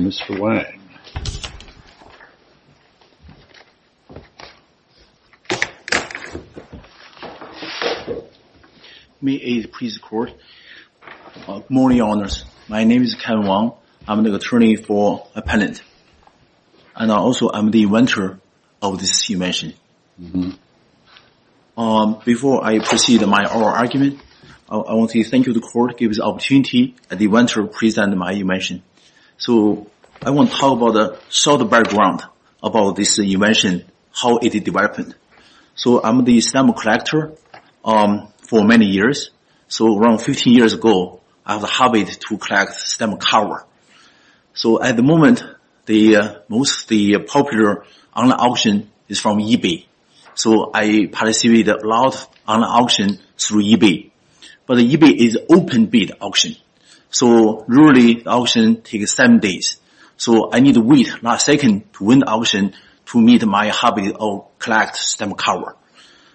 Mr. Wang May 8, please, the court. Good morning, your honors. My name is Kevin Wang. I'm the attorney for a penitent, and also I'm the inventor of this invention. Before I proceed with my oral argument, I want to thank you, the court, for giving the opportunity to present my invention. So I want to talk about a short background about this invention, how it developed. So I'm the stamp collector for many years. So around 15 years ago, I had a habit to collect stamp cover. So at the moment, most of the popular online auction is from eBay. So I participate a lot on auction through eBay. But eBay is open bid auction. So really, the auction takes seven days. So I need to wait last second to win the auction to meet my habit of collect stamp cover.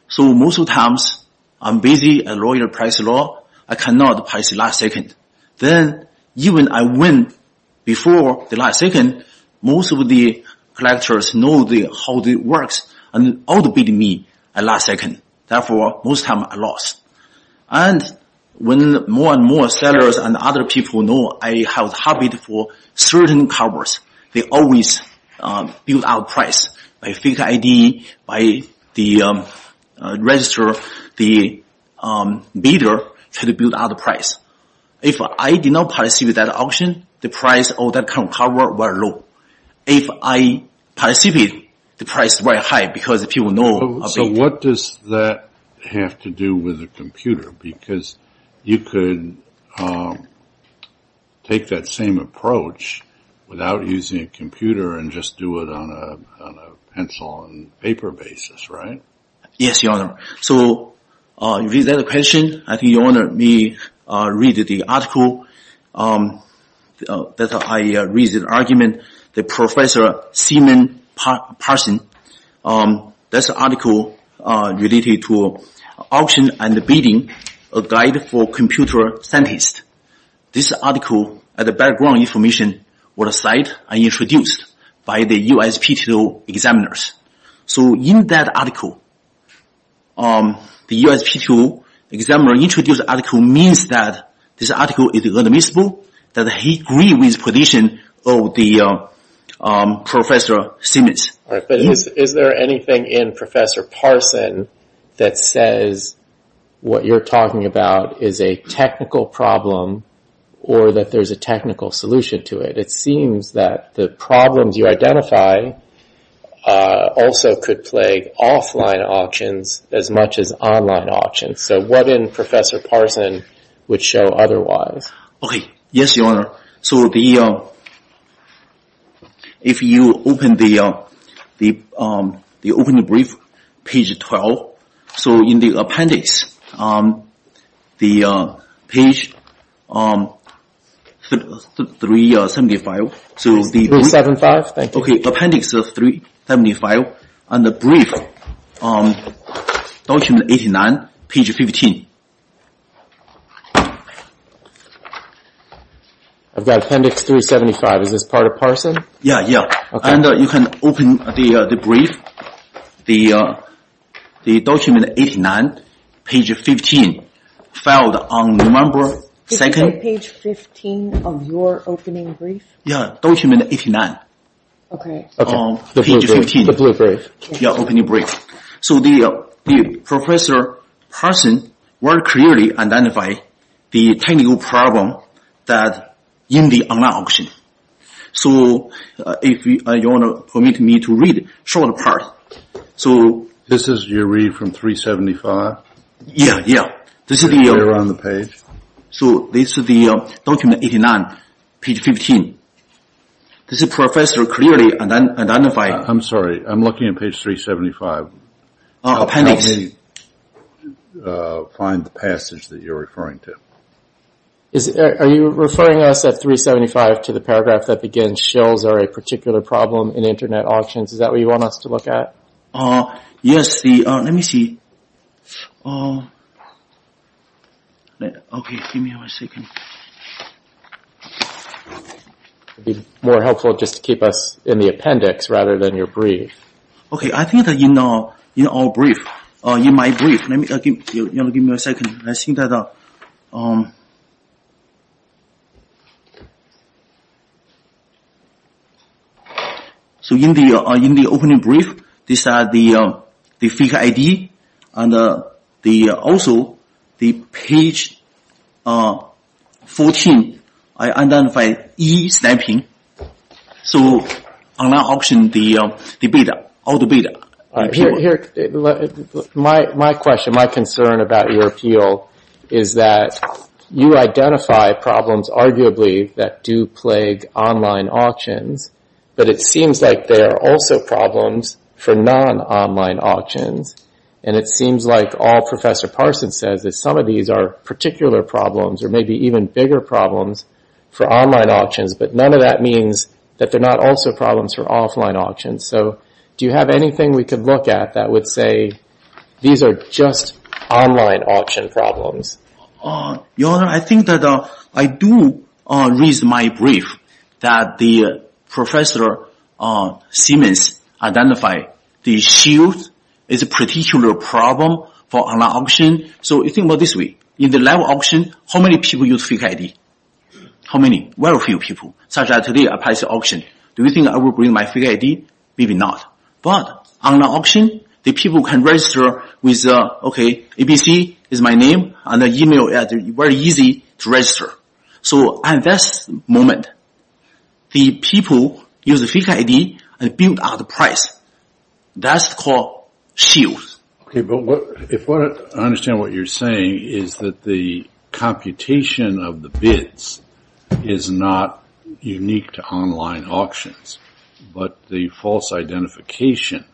So most of times, I'm busy, and lawyer press law, I cannot pass the last second. Then even I win before the last second, most of the collectors know how it works. And all the bid me at last second. Therefore, most of the time, I lost. And when more and more sellers and other people know I have a habit for certain covers, they always build up price. I think ID, by the register, the bidder should build up the price. If I did not participate that auction, the price of that cover were low. If I participate, the price were high because people know. So what does that have to do with a computer? Because you could take that same approach without using a computer and just do it on a pencil and paper basis, right? Yes, Your Honor. So you read that question, I think Your Honor may read the article that I read the argument. The Professor Seaman Parson, that's an article related to auction and bidding, a guide for computer scientists. This article, the background information were cited and introduced by the USPTO examiners. So in that article, the USPTO examiner introduced article means that this article is admissible, that he agrees with the position of Professor Seaman. Is there anything in Professor Parson that says what you're talking about is a technical problem or that there's a technical solution to it? It seems that the problems you identify also could plague offline auctions as much as online auctions. So what in Professor Parson would show otherwise? Okay, yes, Your Honor. So if you open the brief, page 12, so in the appendix, page 375, so the appendix 375 and the brief, document 89, page 15. I've got appendix 375, is this part of Parson? Yeah, yeah, and you can open the brief, the document 89, page 15, filed on November 2nd. Is it page 15 of your opening brief? Yeah, document 89, page 15, the opening brief. So Professor Parson very clearly identified the technical problem that in the online auction. So if you want to permit me to read a short part. This is your read from 375? Yeah, yeah, this is the document 89, page 15. This is Professor clearly identifying... I'm sorry, I'm looking at page 375. Appendix. Find the passage that you're referring to. Are you referring us at 375 to the paragraph that begins shills are a particular problem in internet auctions, is that what you want us to look at? Yes, let me see. Okay, give me one second. It would be more helpful just to keep us in the appendix rather than your brief. Okay, I think that in our brief, in my brief, give me a second, I think that... So in the opening brief, this is the figure ID and also the page... 14, I identify e-snapping. So online auction, the beta, all the beta. My question, my concern about your appeal is that you identify problems arguably that do plague online auctions, but it seems like there are also problems for non-online auctions. And it seems like all Professor Parson says is some of these are particular problems or maybe even bigger problems for online auctions, but none of that means that they're not also problems for offline auctions. So do you have anything we could look at that would say these are just online auction problems? Your Honor, I think that I do read my brief that the Professor Simmons identified the field is a particular problem for online auction, so you think about this way. In the live auction, how many people use figure ID? How many? Very few people, such as today I passed the auction. Do you think I will bring my figure ID? Maybe not. But online auction, the people can register with, okay, ABC is my name, and the email is very easy to register. So at this moment, the people use the figure ID and build up the price. That's called shield. I understand what you're saying is that the computation of the bids is not unique to online auctions, but the false identification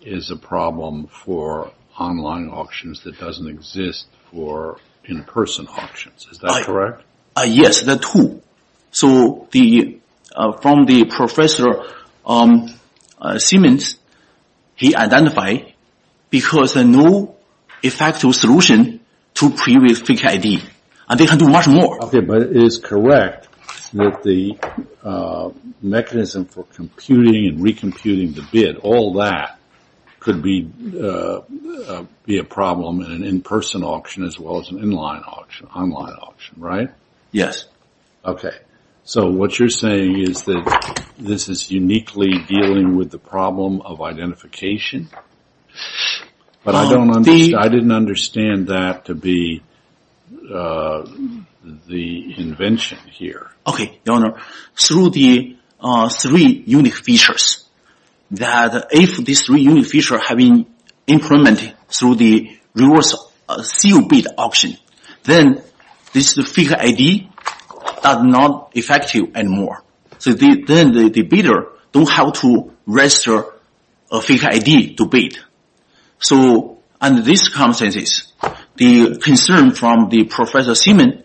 is a problem for online auctions that doesn't exist for in-person auctions. Is that correct? Yes, that's true. So from the Professor Simmons, he identified because there's no effective solution to previous figure ID. And they can do much more. Okay, but it is correct that the mechanism for computing and re-computing the bid, all that could be a problem in an in-person auction as well as an online auction, right? Yes. Okay, so what you're saying is that this is uniquely dealing with the problem of identification? But I didn't understand that to be the invention here. Okay, Your Honor. So the problem is that the bidder, through the three unique features, that if these three unique features have been implemented through the reverse seal bid auction, then this figure ID is not effective anymore. So then the bidder doesn't have to register a figure ID to bid. So under these circumstances, the concern from the Professor Simmons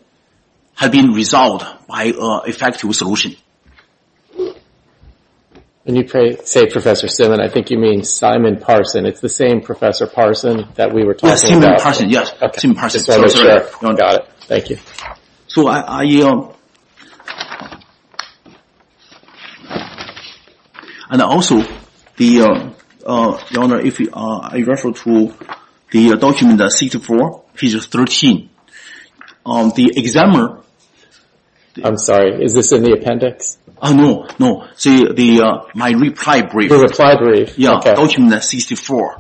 has been resolved by an effective solution. When you say Professor Simmons, I think you mean Simon Parson. It's the same Professor Parson that we were talking about? Yes, Simon Parson. And also, Your Honor, if I refer to the document 64, page 13, the examiner... I'm sorry, is this in the appendix? No, my reply brief, document 64,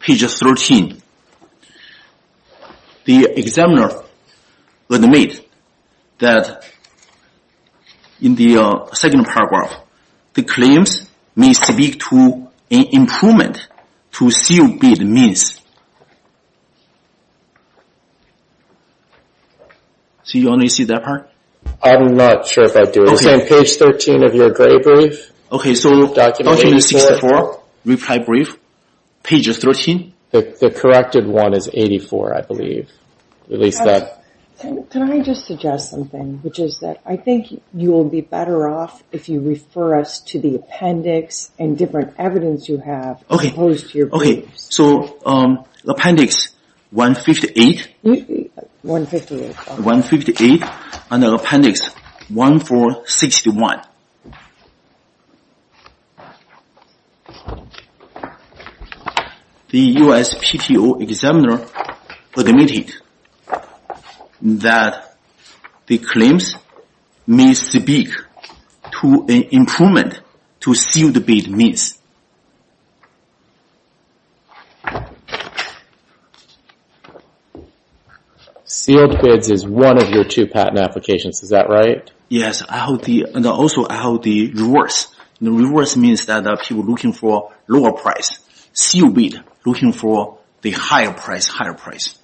page 13. The examiner made that in the second paragraph, the claims may speak to an improvement to seal bid means. So Your Honor, you see that part? I'm not sure if I do. It's on page 13 of your gray brief. Okay, so document 64, reply brief, page 13? The corrected one is 84, I believe. Can I just suggest something? I think you will be better off if you refer us to the appendix and different evidence you have as opposed to your briefs. Okay, so appendix 158 and appendix 1461. The USPTO examiner admitted that the claims may speak to an improvement to sealed bid means. Sealed bids is one of your two patent applications, is that right? Yes, and also I hold the reverse. The reverse means that people are looking for lower price. Sealed bid, looking for the higher price, higher price.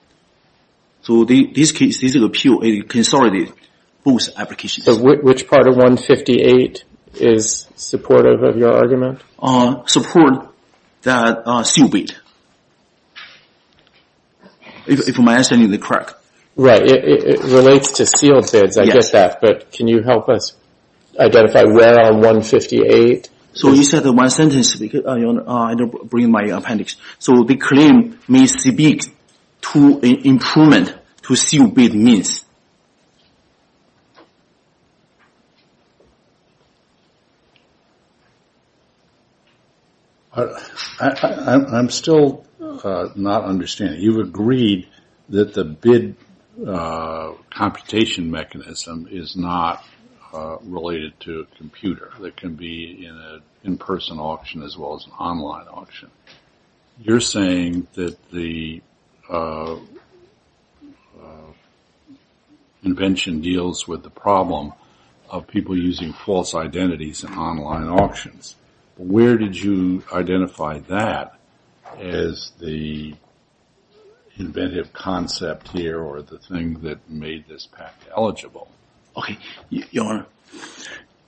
So which part of 158 is supportive of your argument? Support that sealed bid. If my answer is correct. Right, it relates to sealed bids, I get that, but can you help us identify where on 158? So you said in one sentence, Your Honor, I don't bring my appendix. So the claim may speak to an improvement to sealed bid means. I'm still not understanding. You have agreed that the bid computation mechanism is not related to a computer that can be in a in-person auction as well as an online auction. You're saying that the invention deals with the problem of people using false identities in online auctions. Where did you identify that as the inventive concept here or the thing that made this patent eligible? Okay, Your Honor,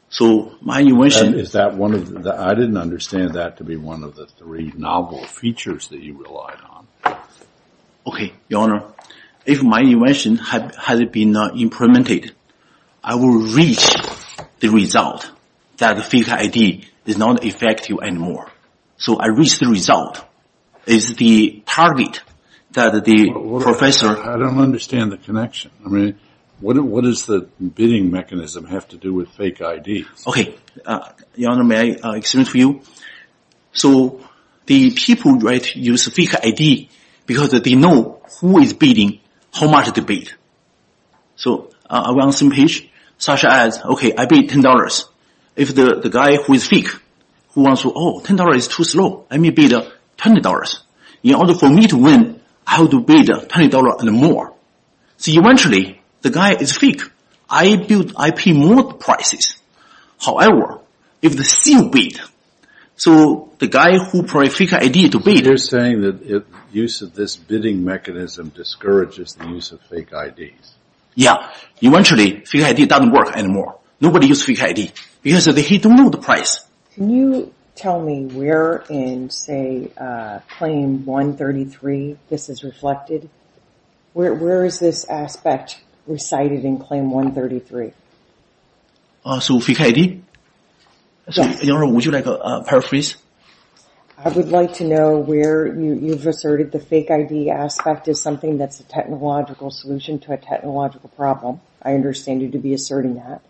so my invention I didn't understand that to be one of the three novel features that you relied on. Okay, Your Honor, if my invention has been implemented, I will reach the result that the fake ID is not effective anymore. So I reach the result is the target that the professor... I don't understand the connection. I mean, what does the bidding mechanism have to do with fake ID? Okay, Your Honor, may I explain to you? So the people use fake ID because they know who is bidding, how much they bid. So I run some page such as, okay, I bid $10. If the guy who is fake who wants to, oh, $10 is too slow, let me bid $20. In order for me to win, I have to bid $20 and more. So eventually the guy is fake. I bid, I pay more prices. However, if they still bid, so the guy who put a fake ID to bid... You're saying that the use of this bidding mechanism discourages the use of fake IDs. Yeah. Eventually, fake ID doesn't work anymore. Nobody uses fake ID because they don't know the price. Can you tell me where in, say, Claim 133 this is reflected? Where is this aspect recited in Claim 133? So fake ID? Your Honor, would you like a paraphrase? I would like to know where you've asserted the fake ID aspect is something that's a technological solution to a technological problem. I understand you to be asserting that.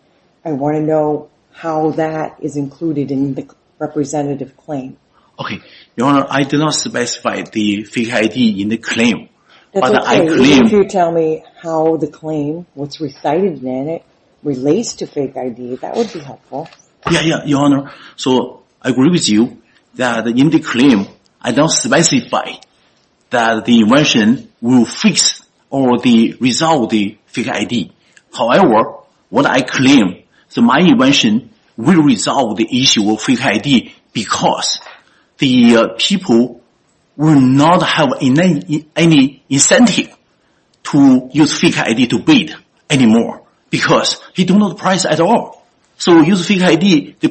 I want to know how that is included in the representative claim. Okay. Your Honor, I do not specify the fake ID in the claim. That's okay. If you tell me how the claim, what's recited in it, relates to fake ID, that would be helpful. Yeah, Your Honor. So I agree with you that in the claim, I don't specify that the invention will fix or resolve the fake ID. However, what I claim is that my invention will resolve the issue of fake ID because the people will not have any incentive to use fake ID. The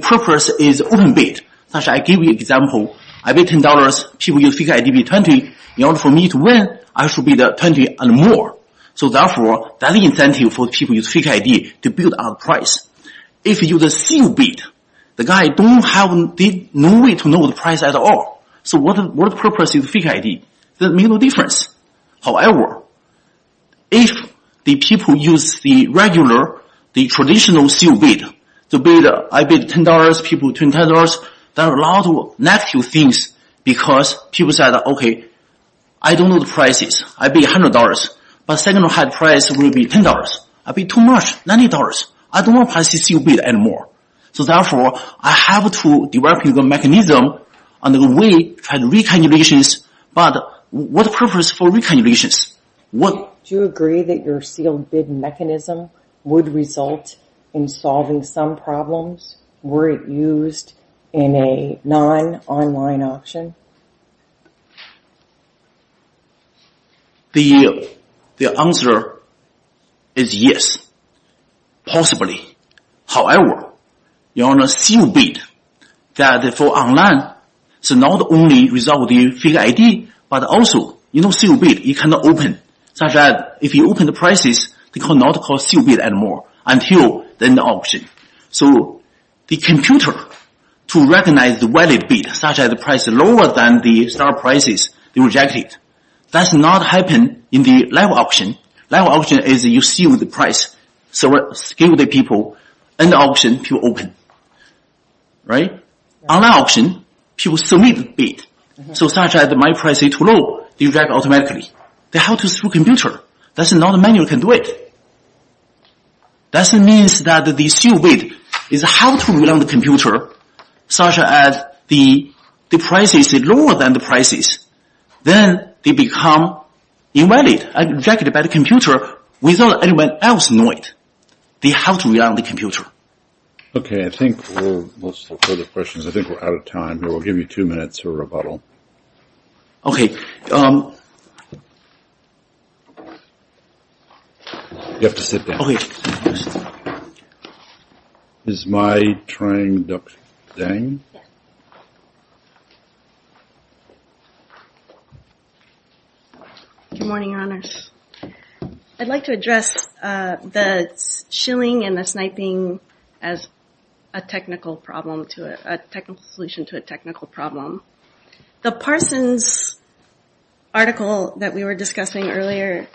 purpose is open bid. I'll give you an example. I bid $10. People use fake ID for $20. In order for me to win, I should bid $20 and more. So therefore, that's an incentive for people to use fake ID to build up price. If you use a sealed bid, the guy has no way to know the price at all. So what purpose is fake ID? It makes no difference. However, if the people use the regular, the traditional sealed bid, I bid $10, people bid $20, there are a lot of negative things because people say, okay, I don't know the prices. I bid $100, but the second highest price will be $10. I bid too much, $90. I don't want to pass the sealed bid anymore. So therefore, I have to develop a mechanism to solve the problem. Do you agree that your sealed bid mechanism would result in solving some problems? Were it used in a non-online auction? The answer is yes, possibly. However, the sealed bid for online is not only the result of the fake ID, but also the sealed bid cannot be opened, such that if you open the prices, they cannot be called sealed bid anymore until the end of the auction. So the computer, to recognize the valid bid, such as the price lower than the start prices, rejects it. That does not happen in the live auction. Live auction is you seal the price, so give the people an option to open. Online auction, people submit the bid, such that if my price is too low, they reject it automatically. They have to through the computer. That's not a manual that can do it. That means that the sealed bid has to be on the computer, such that if the price is lower than the prices, then they become invalid, rejected by the computer without anyone else knowing it. They have to rely on the computer. Okay, I think we're out of time here. We'll give you two minutes for rebuttal. Okay. You have to sit down. Okay. I'd like to address the shilling and the sniping as a technical solution to a technical problem. The Parsons article that we were discussing earlier,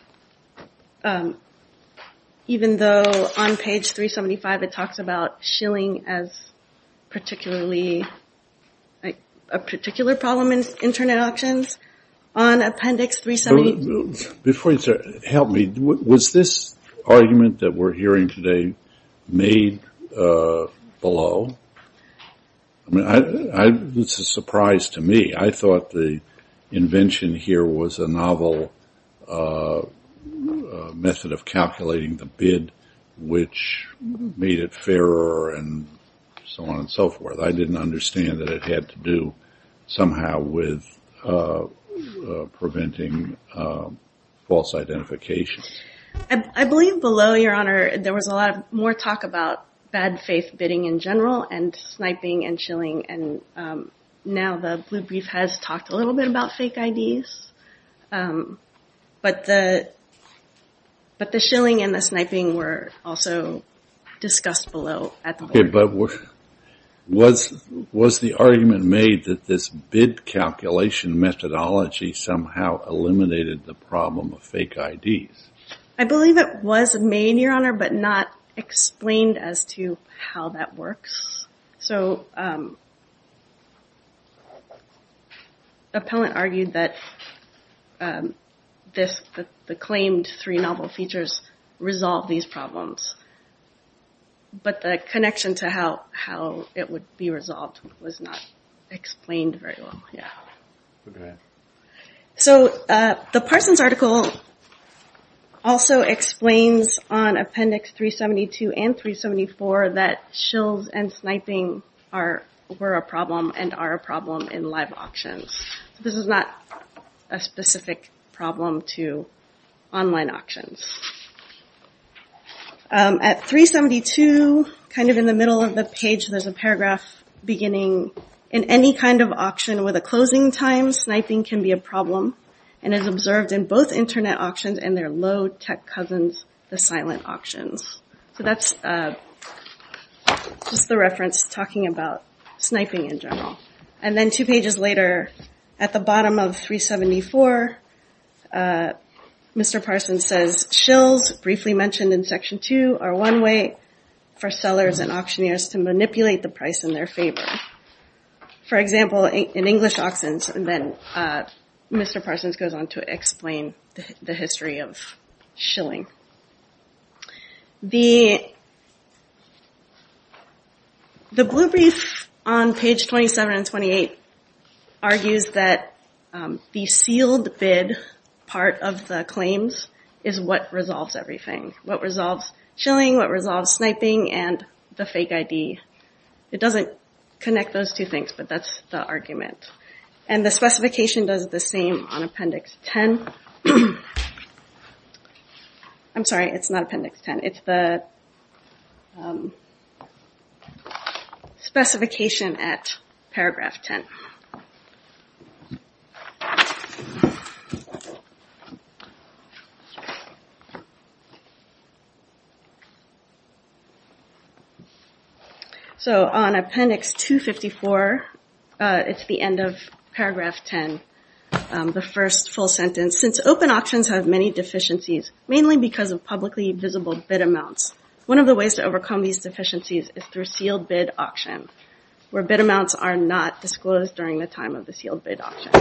even though on page 375 it talks about shilling as particularly, a particular problem in Internet auctions, on appendix 375. Before you start, help me. Was this argument that we're hearing today made below? I mean, it's a surprise to me. I thought the invention here was a novel method of calculating the bid, which made it fairer and so on and so forth. I didn't understand that it had to do somehow with preventing false identification. I believe below, Your Honor, there was a lot more talk about bad faith bidding in general and sniping and shilling. Now the blue brief has talked a little bit about fake IDs. But the shilling and the sniping were also discussed below. Was the argument made that this bid calculation methodology somehow eliminated the problem of fake IDs? I believe it was made, Your Honor, but not explained as to how that works. Appellant argued that the claimed three novel features resolve these problems. But the connection to how it would be resolved was not explained very well. The Parsons article also explains on Appendix 372 and 374 that shills and sniping were a problem and are a problem in live auctions. This is not a specific problem to online auctions. At 372, kind of in the middle of the page, there's a paragraph beginning, in any kind of auction with a closing time, sniping can be a problem and is observed in both internet auctions and their low-tech cousins, the silent auctions. So that's just the reference talking about sniping in general. And then two pages later, at the bottom of 374, Mr. Parsons says, shills, briefly mentioned in Section 2, are one way for sellers and auctioneers to manipulate the price in their favor. For example, in English auctions, Mr. Parsons goes on to explain the history of shilling. The blue brief on page 27 and 28 argues that the sealed bid part of the claims is what resolves everything. What resolves shilling, what resolves sniping, and the fake ID. It doesn't connect those two things, but that's the argument. And the specification does the same on Appendix 10. I'm sorry, it's not Appendix 10. It's the specification at Paragraph 10. So on Appendix 254, it's the end of Paragraph 10, the first full sentence. Since open auctions have many deficiencies, mainly because of publicly visible bid amounts, one of the ways to overcome these deficiencies is through sealed bid auction, where bid amounts are not disclosed during the time of the sealed bid auction.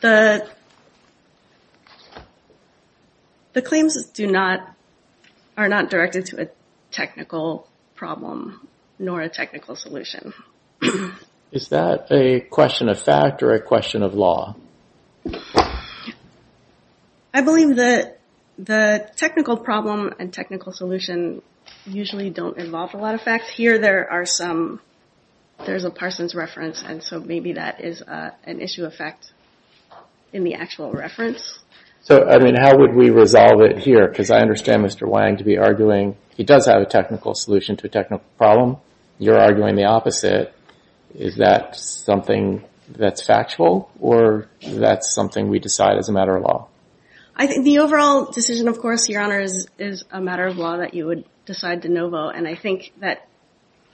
The claims are not directed to a technical problem nor a technical solution. Is that a question of fact or a question of law? I believe that the technical problem and technical solution usually don't involve a lot of fact. Here there are some, there's a Parsons reference, and so maybe that is an issue of fact in the actual reference. So how would we resolve it here? Because I understand Mr. Wang to be arguing he does have a technical solution to a technical problem. You're arguing the opposite. Is that something that's factual or that's something we decide as a matter of law? I think the overall decision, of course, Your Honor, is a matter of law that you would decide de novo. And I think that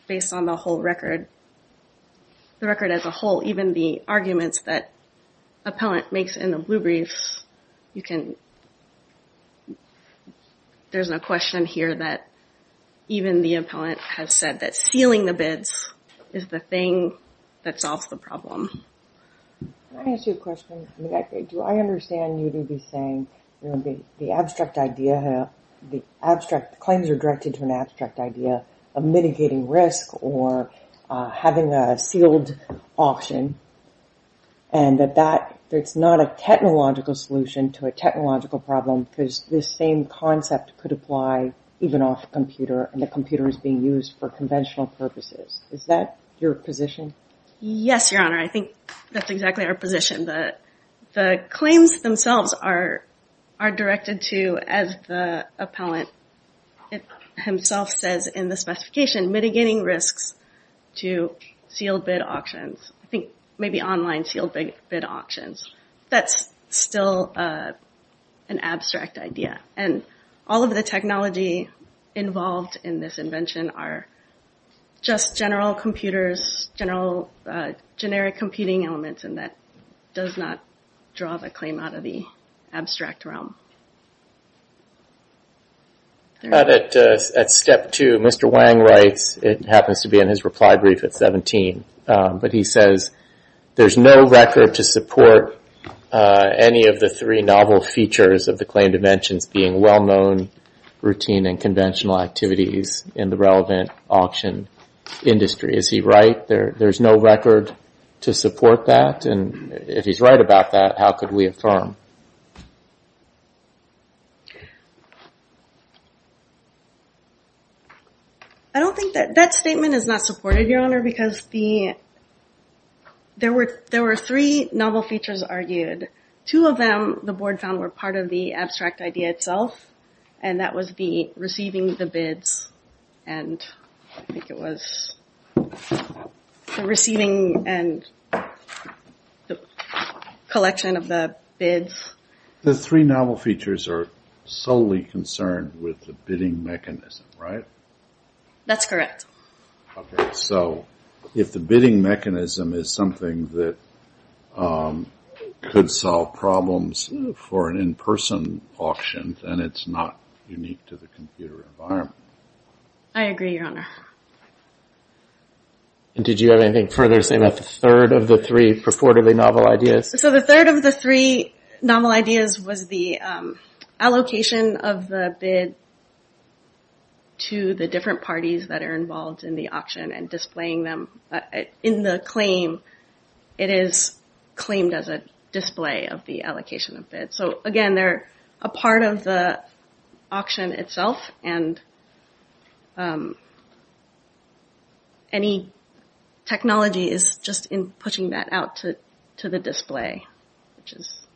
based on the whole record, the record as a whole, even the arguments that Appellant makes in the blue briefs, you can, there's no question here that even the Appellant has said that sealing the bids is the thing that solves the problem. Can I ask you a question? Do I understand you to be saying the abstract idea, the abstract claims are directed to an abstract idea of mitigating risk or having a sealed auction and that that, it's not a technological solution to a technological problem because this same concept could apply even off computer and the computer is being used for conventional purposes. Is that your position? Yes, Your Honor. I think that's exactly our position. The claims themselves are directed to, as the Appellant himself says in the specification, mitigating risks to sealed bid auctions. I think maybe online sealed bid auctions. That's still an abstract idea. And all of the technology involved in this invention are just general computers, general generic computing elements and that does not draw the claim out of the abstract realm. At step two, Mr. Wang writes, it happens to be in his reply brief at 17, but he says there's no record to support any of the three novel features of the claim dimensions, being well-known routine and conventional activities in the relevant auction industry. Is he right? There's no record to support that? And if he's right about that, how could we affirm? I don't think that that statement is not supported, Your Honor, because the, there were three novel features argued. Two of them the board found were part of the abstract idea itself. And that was the receiving the bids. And I think it was the receiving and the collection of the bids. The three novel features are solely concerned with the bidding mechanism, right? That's correct. Okay. So if the bidding mechanism is something that could solve problems for an in-person auction, then it's not unique to the computer environment. I agree, Your Honor. And did you have anything further to say about the third of the three purportedly novel ideas? So the third of the three novel ideas was the allocation of the bid to the different parties that are involved in the auction and displaying them in the claim. It is claimed as a display of the allocation of bids. So again, they're a part of the auction itself and any technology is just in pushing that out to the display, which is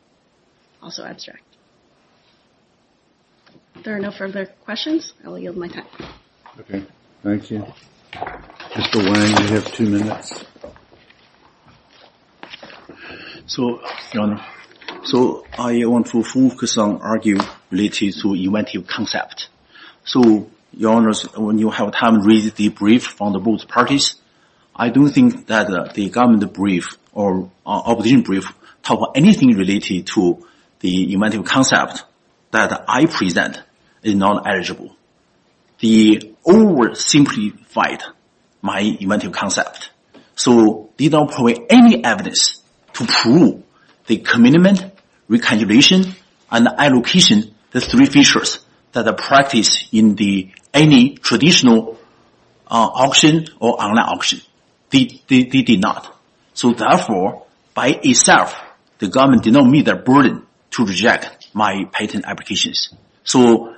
also abstract. If there are no further questions, I will yield my time. Okay. Thank you. Mr. Wang, you have two minutes. So, Your Honor, so I want to focus on arguing related to inventive concept. So, Your Honor, when you have time, read the brief from the both parties. I don't think that the government brief or opposition brief talk about anything related to the inventive concept that I present is not eligible. They oversimplified my inventive concept. So they don't provide any evidence to prove the commitment, recalculation, and allocation of the three features that are practiced in any traditional auction or online auction. They did not. So therefore, by itself, the government did not meet their burden to reject my patent applications. So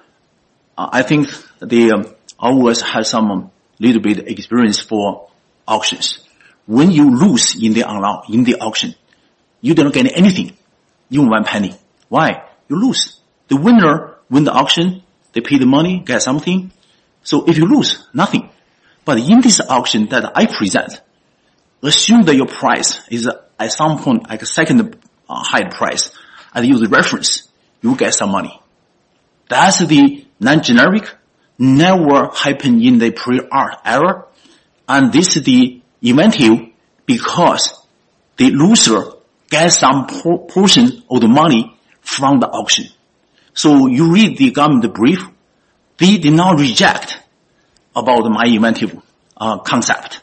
I think they always have some little bit of experience for auctions. When you lose in the auction, you don't get anything, even one penny. Why? You lose. The winner win the auction, they pay the money, get something. So if you lose, nothing. But in this auction that I present, assume that your price is at some point like a second high price, I use the reference, you get some money. That's the non-generic, never happened in the pre-art era, and this is the inventive, because the loser gets some portion of the money from the auction. So you read the government brief. They did not reject my inventive concept.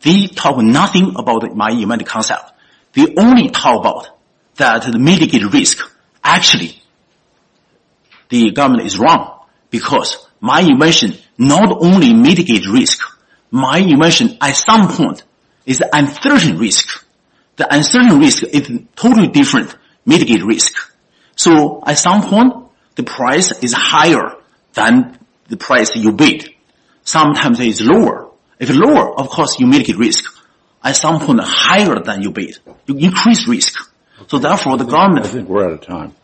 They talk nothing about my inventive concept. They only talk about the mitigated risk. Actually, the government is wrong, because my invention not only mitigates risk, my invention at some point is uncertain risk. The uncertain risk is totally different mitigate risk. So at some point, the price is higher than the price you bid. Sometimes it's lower. If it's lower, of course you mitigate risk. At some point, higher than you bid, you increase risk. I think we're out of time.